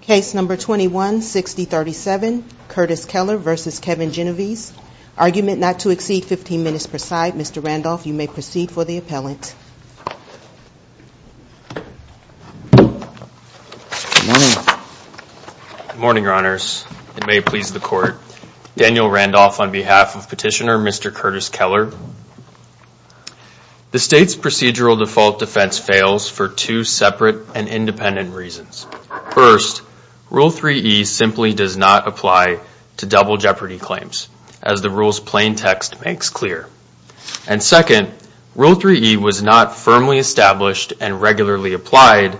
Case number 21-6037, Curtis Keller v. Kevin Genovese. Argument not to exceed 15 minutes per side. Mr. Randolph, you may proceed for the appellant. Good morning. Good morning, Your Honors. It may please the Court. Daniel Randolph on behalf of Petitioner Mr. Curtis Keller. The State's procedural default defense fails for two separate and independent reasons. First, Rule 3e simply does not apply to double jeopardy claims, as the rule's plain text makes clear. And second, Rule 3e was not firmly established and regularly applied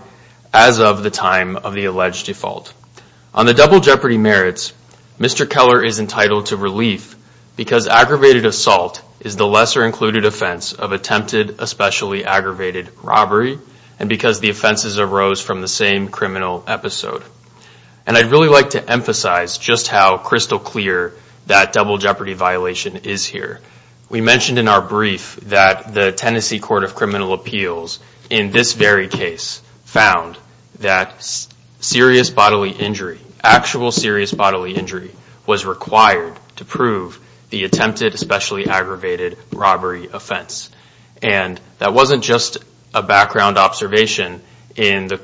as of the time of the alleged default. On the double jeopardy merits, Mr. Keller is entitled to relief because aggravated assault is the lesser included offense of attempted especially aggravated robbery, and because the offenses arose from the same criminal episode. And I'd really like to emphasize just how crystal clear that double jeopardy violation is here. We mentioned in our brief that the Tennessee Court of Criminal Appeals, in this very case, found that serious bodily injury, actual serious bodily injury, was required to prove the attempted especially aggravated robbery offense. And that wasn't just a background observation in the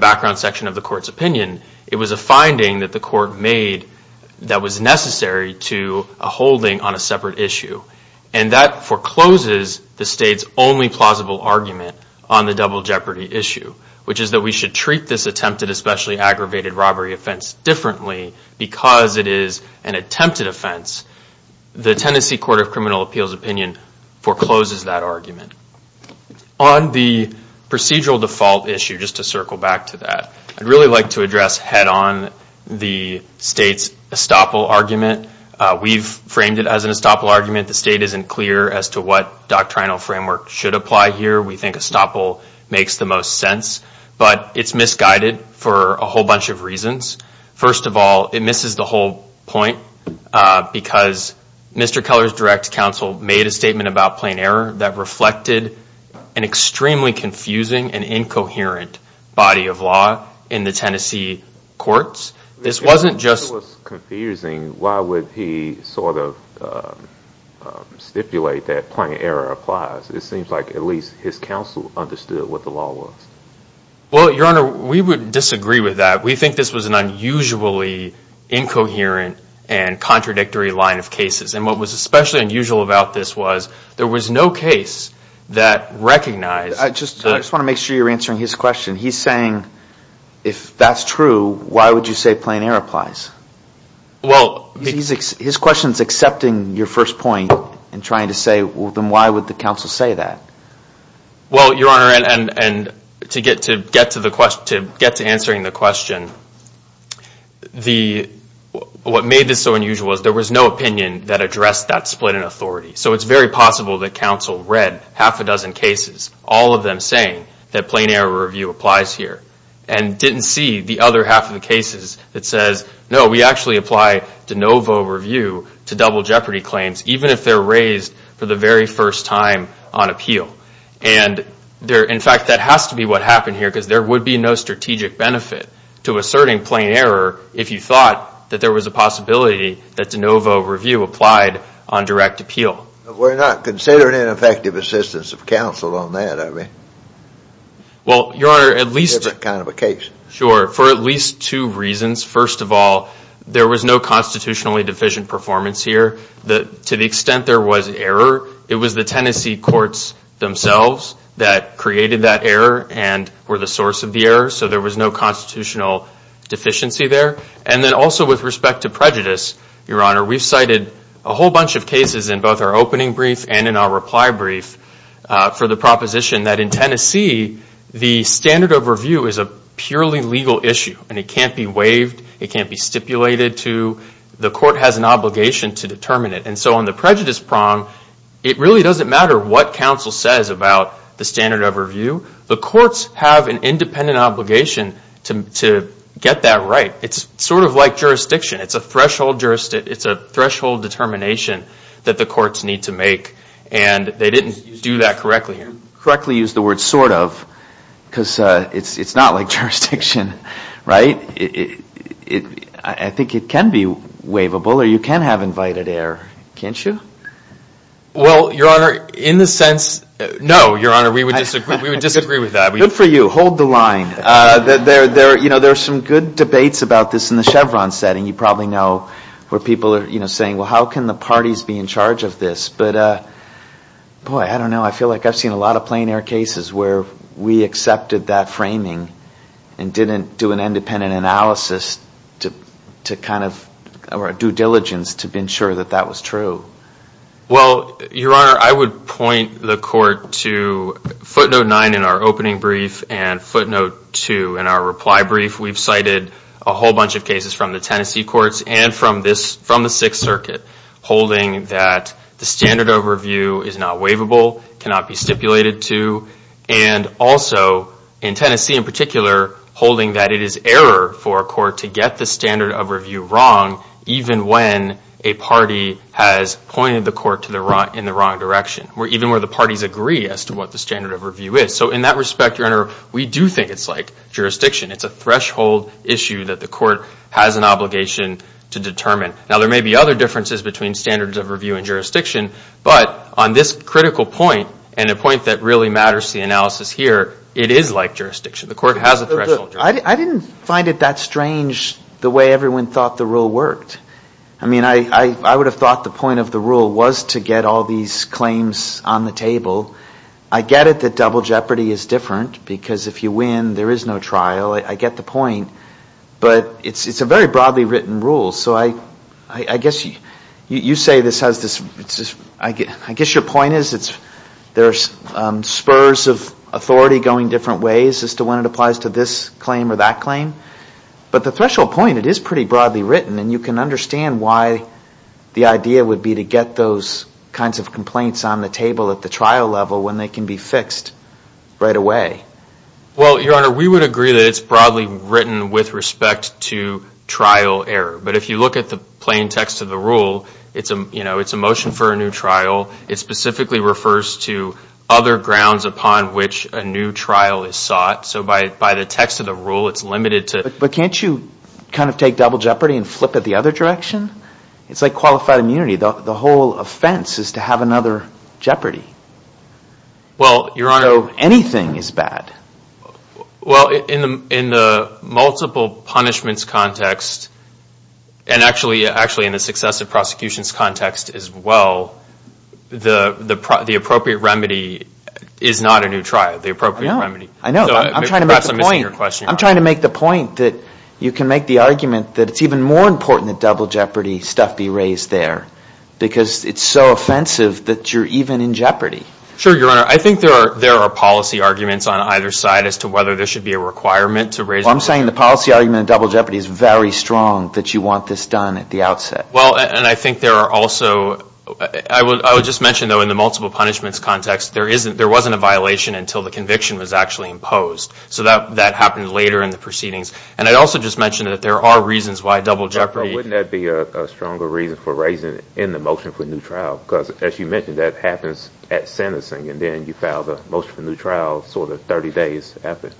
background section of the Court's opinion. It was a finding that the Court made that was necessary to a holding on a separate issue. And that forecloses the State's only plausible argument on the double jeopardy issue, which is that we should treat this attempted especially aggravated robbery offense differently because it is an attempted offense. The Tennessee Court of Criminal Appeals opinion forecloses that argument. On the procedural default issue, just to circle back to that, I'd really like to address head-on the State's estoppel argument. We've framed it as an estoppel argument. The State isn't clear as to what doctrinal framework should apply here. We think estoppel makes the most sense, but it's misguided for a whole bunch of reasons. First of all, it misses the whole point because Mr. Keller's direct counsel made a statement about plain error that reflected an extremely confusing and incoherent body of law in the Tennessee courts. If it was confusing, why would he sort of stipulate that plain error applies? It seems like at least his counsel understood what the law was. Well, Your Honor, we would disagree with that. We think this was an unusually incoherent and contradictory line of cases. And what was especially unusual about this was there was no case that recognized— I just want to make sure you're answering his question. He's saying if that's true, why would you say plain error applies? His question is accepting your first point and trying to say, well, then why would the counsel say that? Well, Your Honor, and to get to answering the question, what made this so unusual was there was no opinion that addressed that split in authority. So it's very possible that counsel read half a dozen cases, all of them saying that plain error review applies here and didn't see the other half of the cases that says, no, we actually apply de novo review to double jeopardy claims, even if they're raised for the very first time on appeal. And in fact, that has to be what happened here because there would be no strategic benefit to asserting plain error if you thought that there was a possibility that de novo review applied on direct appeal. We're not considering an effective assistance of counsel on that, I mean. Well, Your Honor, at least— It's a different kind of a case. Sure. For at least two reasons. First of all, there was no constitutionally deficient performance here. To the extent there was error, it was the Tennessee courts themselves that created that error and were the source of the error, so there was no constitutional deficiency there. And then also with respect to prejudice, Your Honor, we've cited a whole bunch of cases in both our opening brief and in our reply brief for the proposition that in Tennessee, the standard of review is a purely legal issue and it can't be waived, it can't be stipulated to, the court has an obligation to determine it. And so on the prejudice prong, it really doesn't matter what counsel says about the standard of review. The courts have an independent obligation to get that right. It's sort of like jurisdiction, it's a threshold determination that the courts need to make and they didn't do that correctly here. Correctly use the word sort of, because it's not like jurisdiction, right? I think it can be waivable or you can have invited error, can't you? Well, Your Honor, in the sense—no, Your Honor, we would disagree with that. Good for you, hold the line. There are some good debates about this in the Chevron setting, you probably know, where people are saying, well, how can the parties be in charge of this? But, boy, I don't know, I feel like I've seen a lot of plein air cases where we accepted that framing and didn't do an independent analysis to kind of—or a due diligence to ensure that that was true. Well, Your Honor, I would point the court to footnote nine in our opening brief and footnote two in our reply brief. We've cited a whole bunch of cases from the Tennessee courts and from the Sixth Circuit holding that the standard of review is not waivable, cannot be stipulated to, and also in Tennessee in particular holding that it is error for a court to get the standard of review wrong even when a party has pointed the court in the wrong direction, even where the parties agree as to what the standard of review is. So in that respect, Your Honor, we do think it's like jurisdiction. It's a threshold issue that the court has an obligation to determine. Now, there may be other differences between standards of review and jurisdiction, but on this critical point and a point that really matters to the analysis here, it is like jurisdiction. The court has a threshold. I didn't find it that strange the way everyone thought the rule worked. I mean, I would have thought the point of the rule was to get all these claims on the table. I get it that double jeopardy is different because if you win, there is no trial. I get the point. But it's a very broadly written rule. So I guess you say this has this—I guess your point is there are spurs of authority going different ways as to when it applies to this claim or that claim. But the threshold point, it is pretty broadly written, and you can understand why the idea would be to get those kinds of complaints on the table at the trial level when they can be fixed right away. Well, Your Honor, we would agree that it's broadly written with respect to trial error. But if you look at the plain text of the rule, it's a motion for a new trial. It specifically refers to other grounds upon which a new trial is sought. So by the text of the rule, it's limited to— But can't you kind of take double jeopardy and flip it the other direction? It's like qualified immunity. The whole offense is to have another jeopardy. Well, Your Honor— So anything is bad. Well, in the multiple punishments context, and actually in the successive prosecutions context as well, the appropriate remedy is not a new trial. The appropriate remedy— I know. I know. I'm trying to make the point. Perhaps I'm missing your question. I'm trying to make the point that you can make the argument that it's even more important that double jeopardy stuff be raised there because it's so offensive that you're even in jeopardy. Sure, Your Honor. I think there are policy arguments on either side as to whether there should be a requirement to raise— Well, I'm saying the policy argument of double jeopardy is very strong that you want this done at the outset. Well, and I think there are also—I would just mention, though, in the multiple punishments context, there wasn't a violation until the conviction was actually imposed. So that happened later in the proceedings. And I'd also just mention that there are reasons why double jeopardy— But wouldn't that be a stronger reason for raising it in the motion for a new trial? Because as you mentioned, that happens at sentencing, and then you file the motion for a new trial sort of 30 days after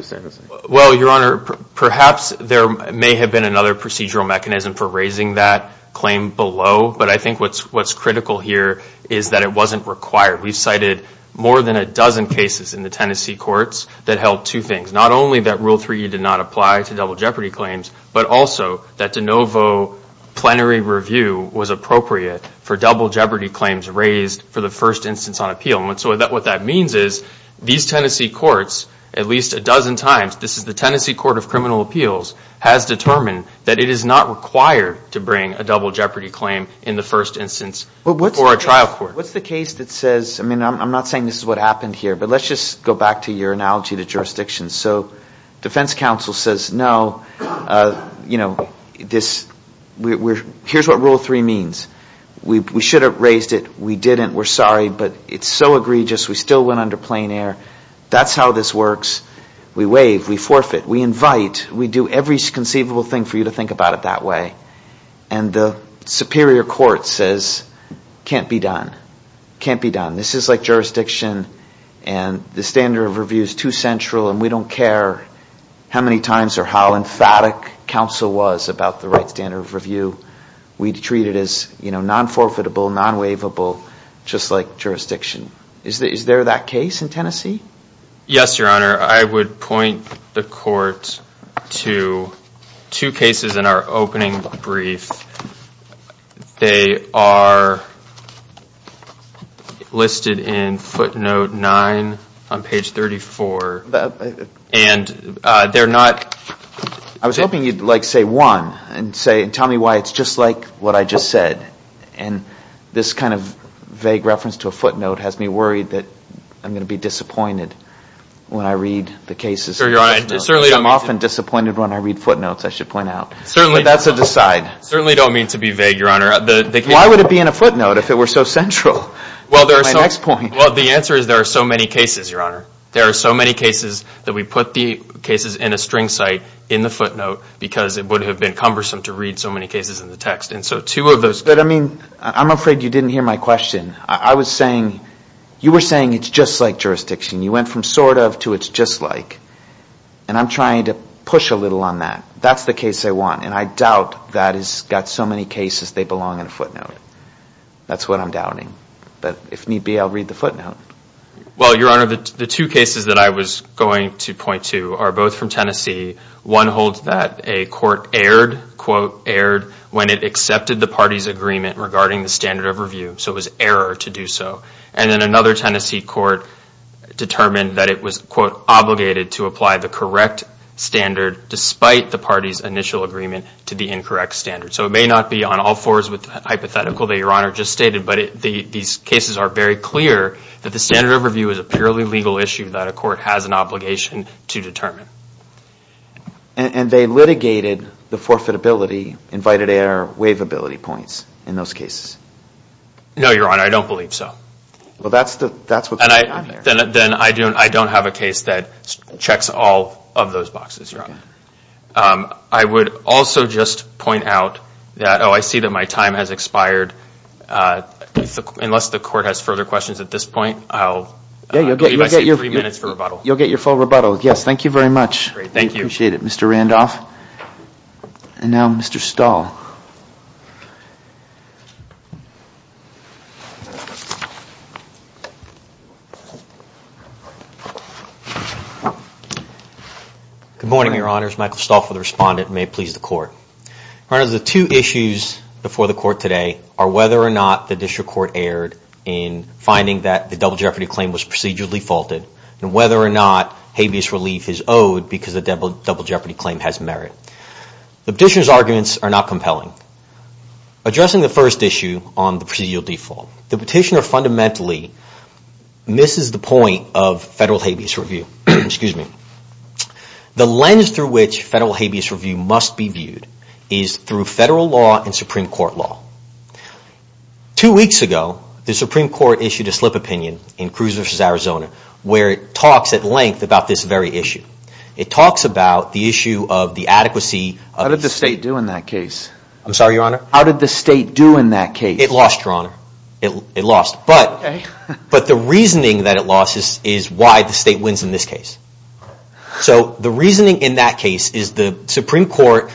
sentencing. Well, Your Honor, perhaps there may have been another procedural mechanism for raising that claim below, but I think what's critical here is that it wasn't required. We've cited more than a dozen cases in the Tennessee courts that held two things, not only that Rule 3E did not apply to double jeopardy claims, but also that de novo plenary review was appropriate for double jeopardy claims raised for the first instance on appeal. And so what that means is these Tennessee courts, at least a dozen times— this is the Tennessee Court of Criminal Appeals— has determined that it is not required to bring a double jeopardy claim in the first instance for a trial court. What's the case that says—I mean, I'm not saying this is what happened here, but let's just go back to your analogy to jurisdictions. So defense counsel says, no, you know, this—here's what Rule 3 means. We should have raised it. We didn't. We're sorry, but it's so egregious. We still went under plain air. That's how this works. We waive. We forfeit. We invite. We do every conceivable thing for you to think about it that way. And the superior court says, can't be done. Can't be done. This is like jurisdiction, and the standard of review is too central, and we don't care how many times or how emphatic counsel was about the right standard of review. We treat it as, you know, non-forfeitable, non-waivable, just like jurisdiction. Is there that case in Tennessee? Yes, Your Honor. I would point the Court to two cases in our opening brief. They are listed in footnote 9 on page 34, and they're not— I was hoping you'd, like, say one and tell me why it's just like what I just said. And this kind of vague reference to a footnote has me worried that I'm going to be disappointed when I read the cases. I'm often disappointed when I read footnotes, I should point out. Certainly don't mean to be vague, Your Honor. Why would it be in a footnote if it were so central? Well, the answer is there are so many cases, Your Honor. There are so many cases that we put the cases in a string site in the footnote because it would have been cumbersome to read so many cases in the text. But, I mean, I'm afraid you didn't hear my question. I was saying, you were saying it's just like jurisdiction. You went from sort of to it's just like, and I'm trying to push a little on that. That's the case I want, and I doubt that it's got so many cases they belong in a footnote. That's what I'm doubting. But if need be, I'll read the footnote. Well, Your Honor, the two cases that I was going to point to are both from Tennessee. One holds that a court erred, quote, erred when it accepted the party's agreement regarding the standard of review. So it was error to do so. And then another Tennessee court determined that it was, quote, obligated to apply the correct standard despite the party's initial agreement to the incorrect standard. So it may not be on all fours with the hypothetical that Your Honor just stated, but these cases are very clear that the standard of review is a purely legal issue that a court has an obligation to determine. And they litigated the forfeitability, invited error, waivability points in those cases? No, Your Honor, I don't believe so. Well, that's what's going on here. Then I don't have a case that checks all of those boxes, Your Honor. I would also just point out that, oh, I see that my time has expired. Unless the court has further questions at this point, I'll leave my seat for three minutes for rebuttal. You'll get your full rebuttal. Yes, thank you very much. Great, thank you. I appreciate it, Mr. Randolph. And now Mr. Stahl. Good morning, Your Honors. Michael Stahl for the Respondent, and may it please the Court. Your Honors, the two issues before the Court today are whether or not the district court erred in finding that the double jeopardy claim was procedurally faulted, and whether or not habeas relief is owed because the double jeopardy claim has merit. The petitioner's arguments are not compelling. Addressing the first issue on the procedural default, the petitioner fundamentally misses the point of federal habeas review. The lens through which federal habeas review must be viewed is through federal law and Supreme Court law. Two weeks ago, the Supreme Court issued a slip opinion in Cruz v. Arizona where it talks at length about this very issue. It talks about the issue of the adequacy of... How did the state do in that case? I'm sorry, Your Honor? How did the state do in that case? It lost, Your Honor. It lost. But the reasoning that it lost is why the state wins in this case. So the reasoning in that case is the Supreme Court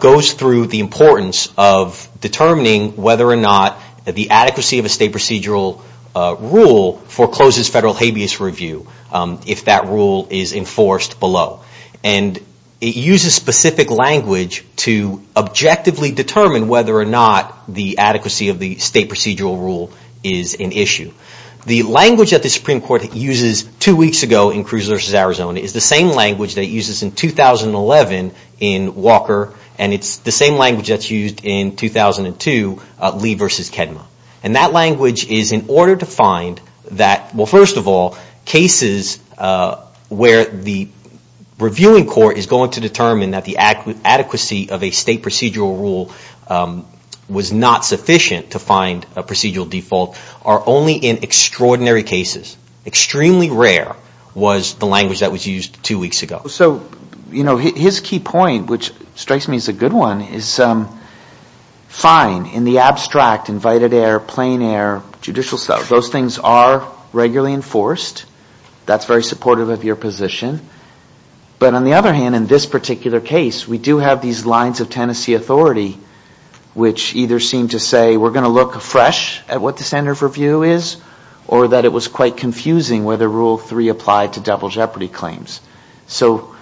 goes through the importance of determining whether or not the adequacy of a state procedural rule forecloses federal habeas review if that rule is enforced below. And it uses specific language to objectively determine whether or not the adequacy of the state procedural rule is an issue. The language that the Supreme Court uses two weeks ago in Cruz v. Arizona is the same language that it uses in 2011 in Walker, and it's the same language that's used in 2002, Lee v. Kedma. And that language is in order to find that, well, first of all, cases where the reviewing court is going to determine that the adequacy of a state procedural rule was not sufficient to find a procedural default are only in extraordinary cases. Extremely rare was the language that was used two weeks ago. So, you know, his key point, which strikes me as a good one, is fine, in the abstract, invited air, plain air, judicial stuff, those things are regularly enforced. That's very supportive of your position. But on the other hand, in this particular case, we do have these lines of Tennessee authority which either seem to say we're going to look fresh at what the standard of review is or that it was quite confusing whether Rule 3 applied to double jeopardy claims. So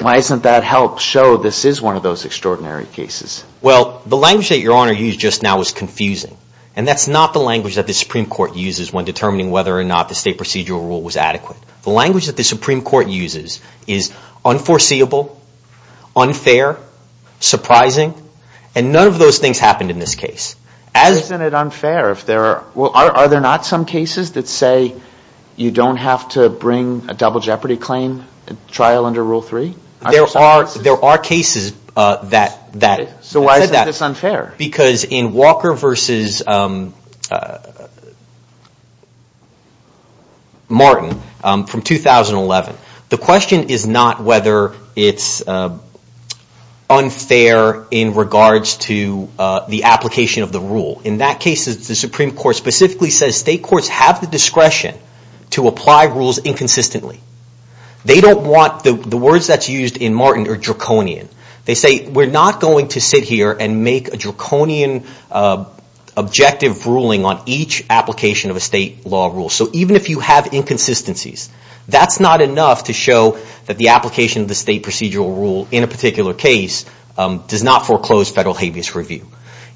why doesn't that help show this is one of those extraordinary cases? Well, the language that Your Honor used just now was confusing, and that's not the language that the Supreme Court uses when determining whether or not the state procedural rule was adequate. The language that the Supreme Court uses is unforeseeable, unfair, surprising, and none of those things happened in this case. Isn't it unfair if there are... Well, are there not some cases that say you don't have to bring a double jeopardy claim trial under Rule 3? There are cases that... So why is this unfair? Because in Walker v. Martin from 2011, the question is not whether it's unfair in regards to the application of the rule. In that case, the Supreme Court specifically says state courts have the discretion to apply rules inconsistently. They don't want the words that's used in Martin are draconian. They say we're not going to sit here and make a draconian objective ruling on each application of a state law rule. So even if you have inconsistencies, that's not enough to show that the application of the state procedural rule in a particular case does not foreclose federal habeas review.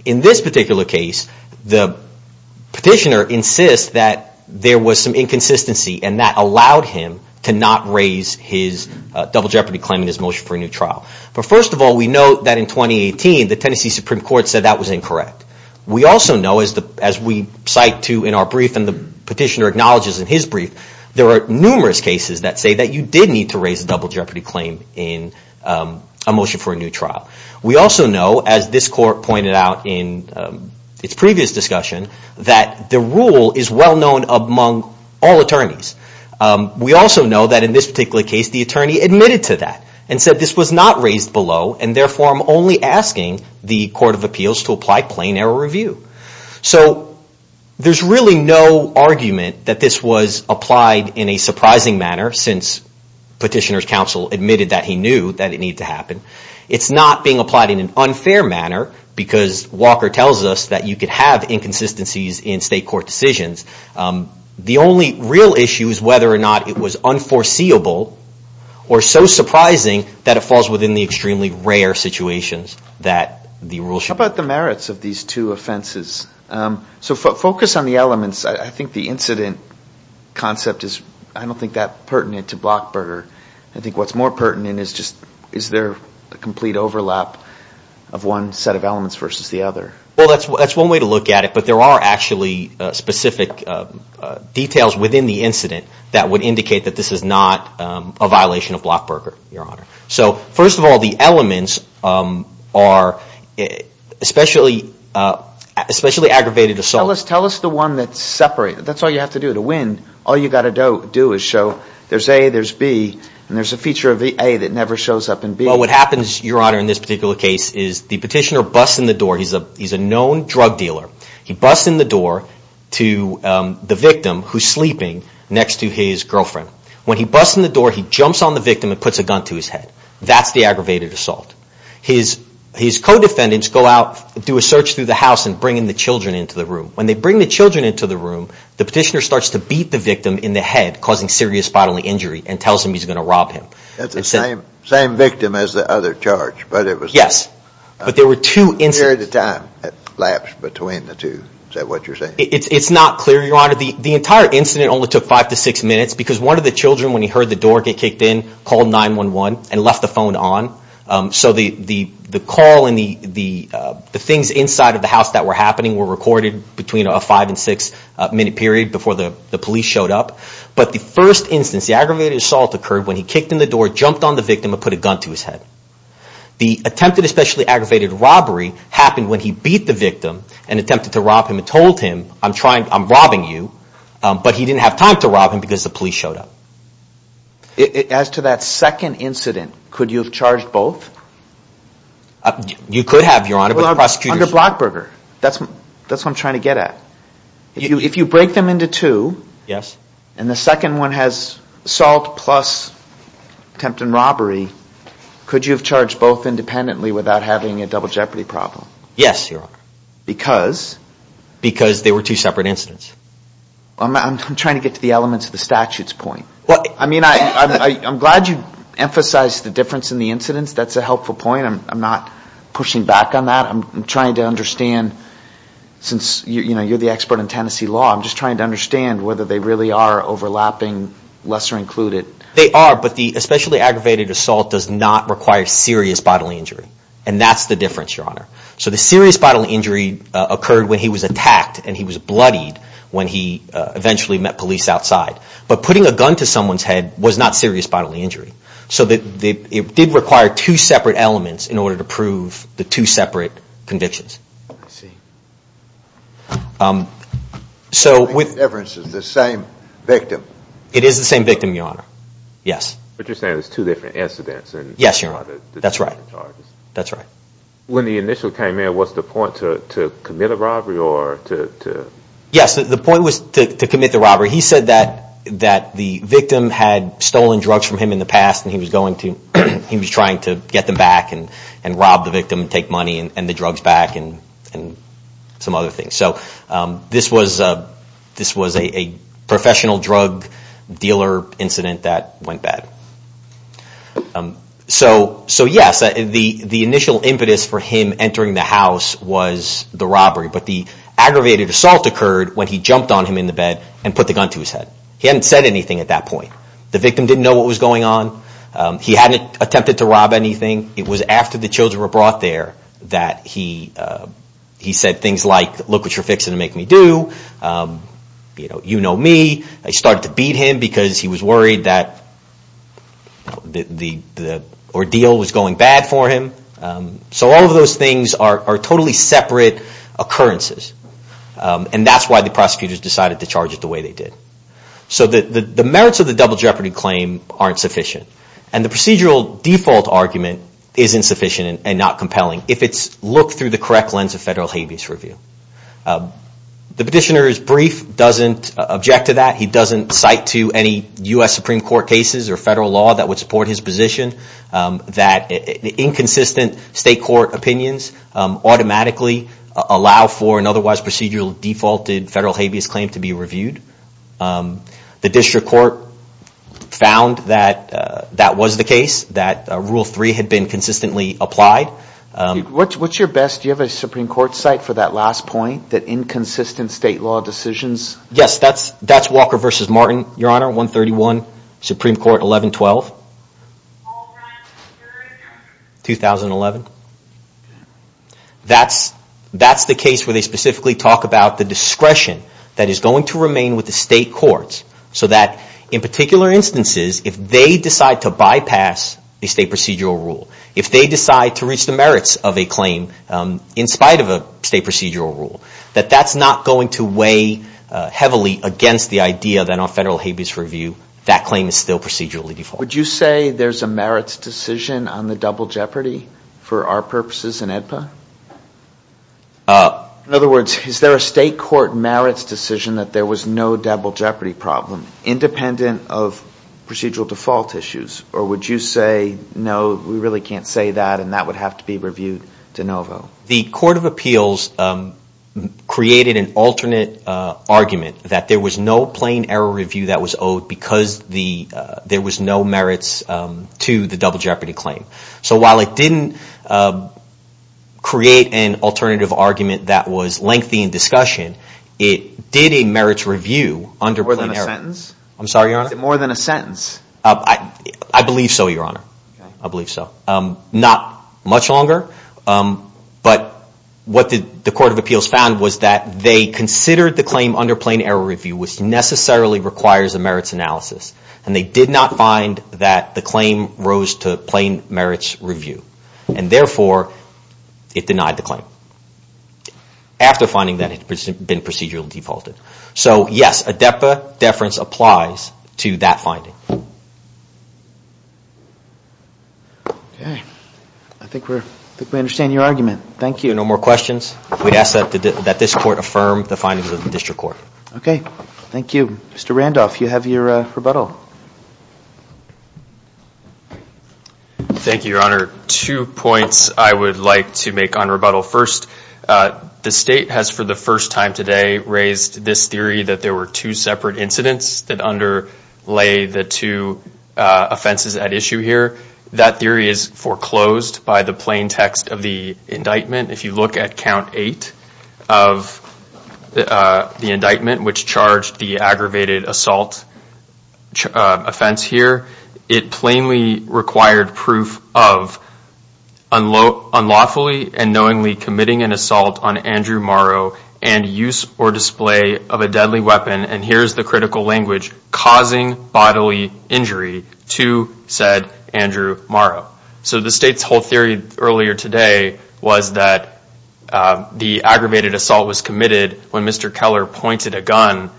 In this particular case, the petitioner insists that there was some inconsistency, and that allowed him to not raise his double jeopardy claim in his motion for a new trial. But first of all, we know that in 2018, the Tennessee Supreme Court said that was incorrect. We also know, as we cite to in our brief and the petitioner acknowledges in his brief, there are numerous cases that say that you did need to raise a double jeopardy claim in a motion for a new trial. We also know, as this court pointed out in its previous discussion, that the rule is well known among all attorneys. We also know that in this particular case, the attorney admitted to that and said this was not raised below, and therefore I'm only asking the Court of Appeals to apply plain error review. So there's really no argument that this was applied in a surprising manner since petitioner's counsel admitted that he knew that it needed to happen. It's not being applied in an unfair manner because Walker tells us that you could have inconsistencies in state court decisions. The only real issue is whether or not it was unforeseeable or so surprising that it falls within the extremely rare situations that the rule should be. How about the merits of these two offenses? So focus on the elements. I think the incident concept is, I don't think, that pertinent to Blockburger. I think what's more pertinent is just is there a complete overlap of one set of elements versus the other. Well, that's one way to look at it, but there are actually specific details within the incident that would indicate that this is not a violation of Blockburger, Your Honor. So first of all, the elements are especially aggravated assault. Tell us the one that's separated. That's all you have to do. All you've got to do is show there's A, there's B, and there's a feature of the A that never shows up in B. Well, what happens, Your Honor, in this particular case is the petitioner busts in the door. He's a known drug dealer. He busts in the door to the victim who's sleeping next to his girlfriend. When he busts in the door, he jumps on the victim and puts a gun to his head. That's the aggravated assault. His co-defendants go out, do a search through the house and bring in the children into the room. When they bring the children into the room, the petitioner starts to beat the victim in the head, causing serious bodily injury, and tells him he's going to rob him. That's the same victim as the other charge. Yes, but there were two incidents. The period of time lapsed between the two. Is that what you're saying? It's not clear, Your Honor. The entire incident only took five to six minutes because one of the children, when he heard the door get kicked in, called 911 and left the phone on. So the call and the things inside of the house that were happening were recorded between a five- and six-minute period before the police showed up. But the first instance, the aggravated assault occurred when he kicked in the door, jumped on the victim, and put a gun to his head. The attempted especially aggravated robbery happened when he beat the victim and attempted to rob him and told him, I'm robbing you, but he didn't have time to rob him because the police showed up. As to that second incident, could you have charged both? You could have, Your Honor. Under Brockberger, that's what I'm trying to get at. If you break them into two, and the second one has assault plus attempted robbery, could you have charged both independently without having a double jeopardy problem? Yes, Your Honor. Because? Because they were two separate incidents. I'm trying to get to the elements of the statute's point. I mean, I'm glad you emphasized the difference in the incidents. That's a helpful point. I'm not pushing back on that. I'm trying to understand, since you're the expert in Tennessee law, I'm just trying to understand whether they really are overlapping, lesser included. They are, but the especially aggravated assault does not require serious bodily injury, and that's the difference, Your Honor. So the serious bodily injury occurred when he was attacked, and he was bloodied when he eventually met police outside. But putting a gun to someone's head was not serious bodily injury. So it did require two separate elements in order to prove the two separate convictions. I see. I think the difference is the same victim. It is the same victim, Your Honor. Yes. But you're saying it was two different incidents? Yes, Your Honor. That's right. That's right. When the initial came in, was the point to commit a robbery? Yes, the point was to commit the robbery. He said that the victim had stolen drugs from him in the past, and he was trying to get them back and rob the victim and take money and the drugs back and some other things. So this was a professional drug dealer incident that went bad. So, yes, the initial impetus for him entering the house was the robbery, but the aggravated assault occurred when he jumped on him in the bed and put the gun to his head. He hadn't said anything at that point. The victim didn't know what was going on. He hadn't attempted to rob anything. It was after the children were brought there that he said things like, look what you're fixing to make me do, you know me. They started to beat him because he was worried that the ordeal was going bad for him. So all of those things are totally separate occurrences, and that's why the prosecutors decided to charge it the way they did. So the merits of the double jeopardy claim aren't sufficient, and the procedural default argument is insufficient and not compelling if it's looked through the correct lens of federal habeas review. The petitioner's brief doesn't object to that. He doesn't cite to any U.S. Supreme Court cases or federal law that would support his position that inconsistent state court opinions automatically allow for an otherwise procedural defaulted federal habeas claim to be reviewed. The district court found that that was the case, that Rule 3 had been consistently applied. What's your best, do you have a Supreme Court cite for that last point, that inconsistent state law decisions? Yes, that's Walker v. Martin, Your Honor, 131 Supreme Court 1112. All right, where is that? 2011. That's the case where they specifically talk about the discretion that is going to remain with the state courts so that in particular instances, if they decide to bypass the state procedural rule, if they decide to reach the merits of a claim in spite of a state procedural rule, that that's not going to weigh heavily against the idea that on federal habeas review that claim is still procedurally defaulted. Would you say there's a merits decision on the double jeopardy for our purposes in AEDPA? In other words, is there a state court merits decision that there was no double jeopardy problem, independent of procedural default issues? Or would you say, no, we really can't say that and that would have to be reviewed de novo? The Court of Appeals created an alternate argument that there was no plain error review that was owed because there was no merits to the double jeopardy claim. So while it didn't create an alternative argument that was lengthy in discussion, it did a merits review under plain error. More than a sentence? I'm sorry, Your Honor? More than a sentence? I believe so, Your Honor. Okay. I believe so. Not much longer. But what the Court of Appeals found was that they considered the claim under plain error review which necessarily requires a merits analysis. And they did not find that the claim rose to plain merits review. And therefore, it denied the claim after finding that it had been procedurally defaulted. So, yes, a DEPA deference applies to that finding. Okay. I think we understand your argument. Thank you. No more questions? We ask that this Court affirm the findings of the District Court. Okay. Thank you. Mr. Randolph, you have your rebuttal. Thank you, Your Honor. Two points I would like to make on rebuttal. First, the State has for the first time today raised this theory that there were two separate incidents that underlay the two offenses at issue here. That theory is foreclosed by the plain text of the indictment. If you look at Count 8 of the indictment, which charged the aggravated assault offense here, it plainly required proof of unlawfully and knowingly committing an assault on Andrew Morrow and use or display of a deadly weapon, and here is the critical language, causing bodily injury to said Andrew Morrow. So the State's whole theory earlier today was that the aggravated assault was committed when Mr. Keller pointed a gun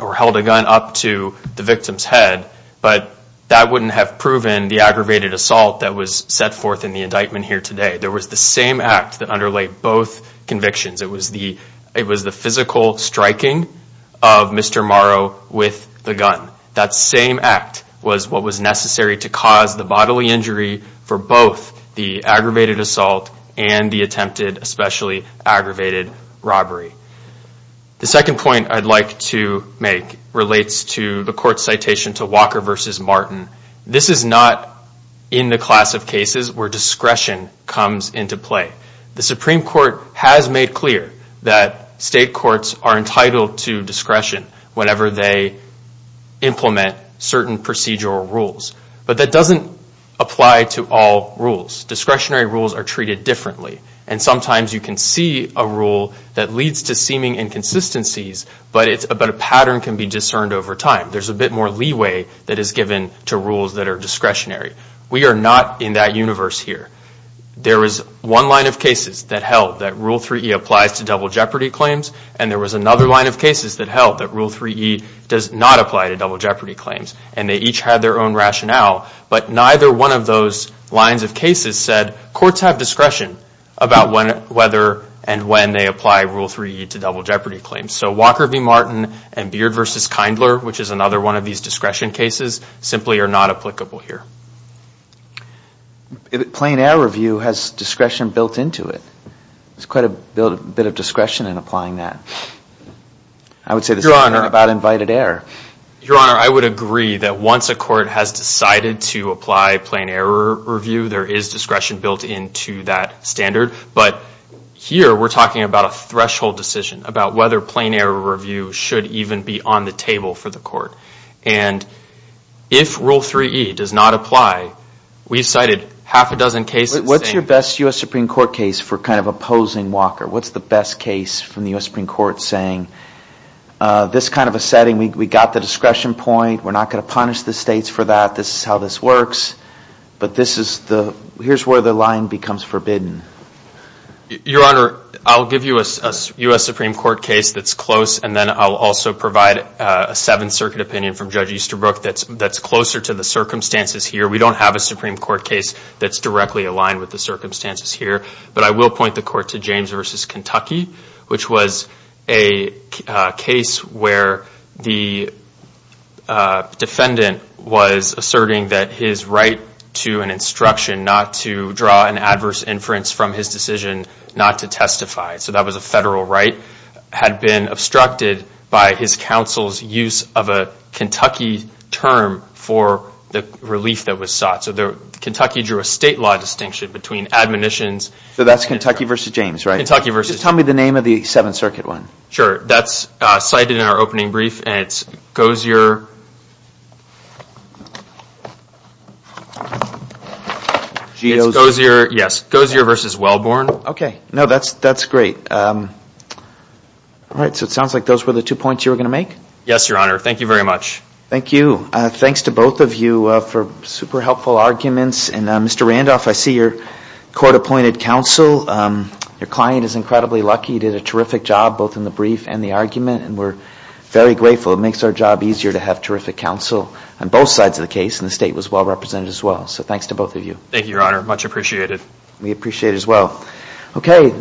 or held a gun up to the victim's head, but that wouldn't have proven the aggravated assault that was set forth in the indictment here today. There was the same act that underlay both convictions. It was the physical striking of Mr. Morrow with the gun. That same act was what was necessary to cause the bodily injury for both the aggravated assault and the attempted especially aggravated robbery. The second point I'd like to make relates to the court's citation to Walker v. Martin. This is not in the class of cases where discretion comes into play. The Supreme Court has made clear that state courts are entitled to discretion whenever they implement certain procedural rules, but that doesn't apply to all rules. Discretionary rules are treated differently, and sometimes you can see a rule that leads to seeming inconsistencies, but a pattern can be discerned over time. There's a bit more leeway that is given to rules that are discretionary. We are not in that universe here. There is one line of cases that held that Rule 3E applies to double jeopardy claims, and there was another line of cases that held that Rule 3E does not apply to double jeopardy claims, and they each had their own rationale. But neither one of those lines of cases said courts have discretion about whether and when they apply Rule 3E to double jeopardy claims. So Walker v. Martin and Beard v. Kindler, which is another one of these discretion cases, simply are not applicable here. Plain error view has discretion built into it. There's quite a bit of discretion in applying that. I would say the same thing about invited error. Your Honor, I would agree that once a court has decided to apply plain error review, there is discretion built into that standard. But here we're talking about a threshold decision, about whether plain error review should even be on the table for the court. And if Rule 3E does not apply, we've cited half a dozen cases. What's your best U.S. Supreme Court case for kind of opposing Walker? What's the best case from the U.S. Supreme Court saying, this kind of a setting, we got the discretion point, we're not going to punish the states for that, this is how this works. But here's where the line becomes forbidden. Your Honor, I'll give you a U.S. Supreme Court case that's close, and then I'll also provide a Seventh Circuit opinion from Judge Easterbrook that's closer to the circumstances here. We don't have a Supreme Court case that's directly aligned with the circumstances here. But I will point the court to James v. Kentucky, which was a case where the defendant was asserting that his right to an instruction not to draw an adverse inference from his decision not to testify, so that was a federal right, had been obstructed by his counsel's use of a Kentucky term for the relief that was sought. So Kentucky drew a state law distinction between admonitions. So that's Kentucky v. James, right? Kentucky v. Just tell me the name of the Seventh Circuit one. Sure. That's cited in our opening brief, and it's Gozier v. Wellborn. Okay. No, that's great. All right. So it sounds like those were the two points you were going to make? Yes, Your Honor. Thank you very much. Thank you. Thanks to both of you for super helpful arguments. And Mr. Randolph, I see your court appointed counsel. Your client is incredibly lucky. He did a terrific job both in the brief and the argument, and we're very grateful. It makes our job easier to have terrific counsel on both sides of the case, and the state was well represented as well. So thanks to both of you. Thank you, Your Honor. Much appreciated. We appreciate it as well. Okay.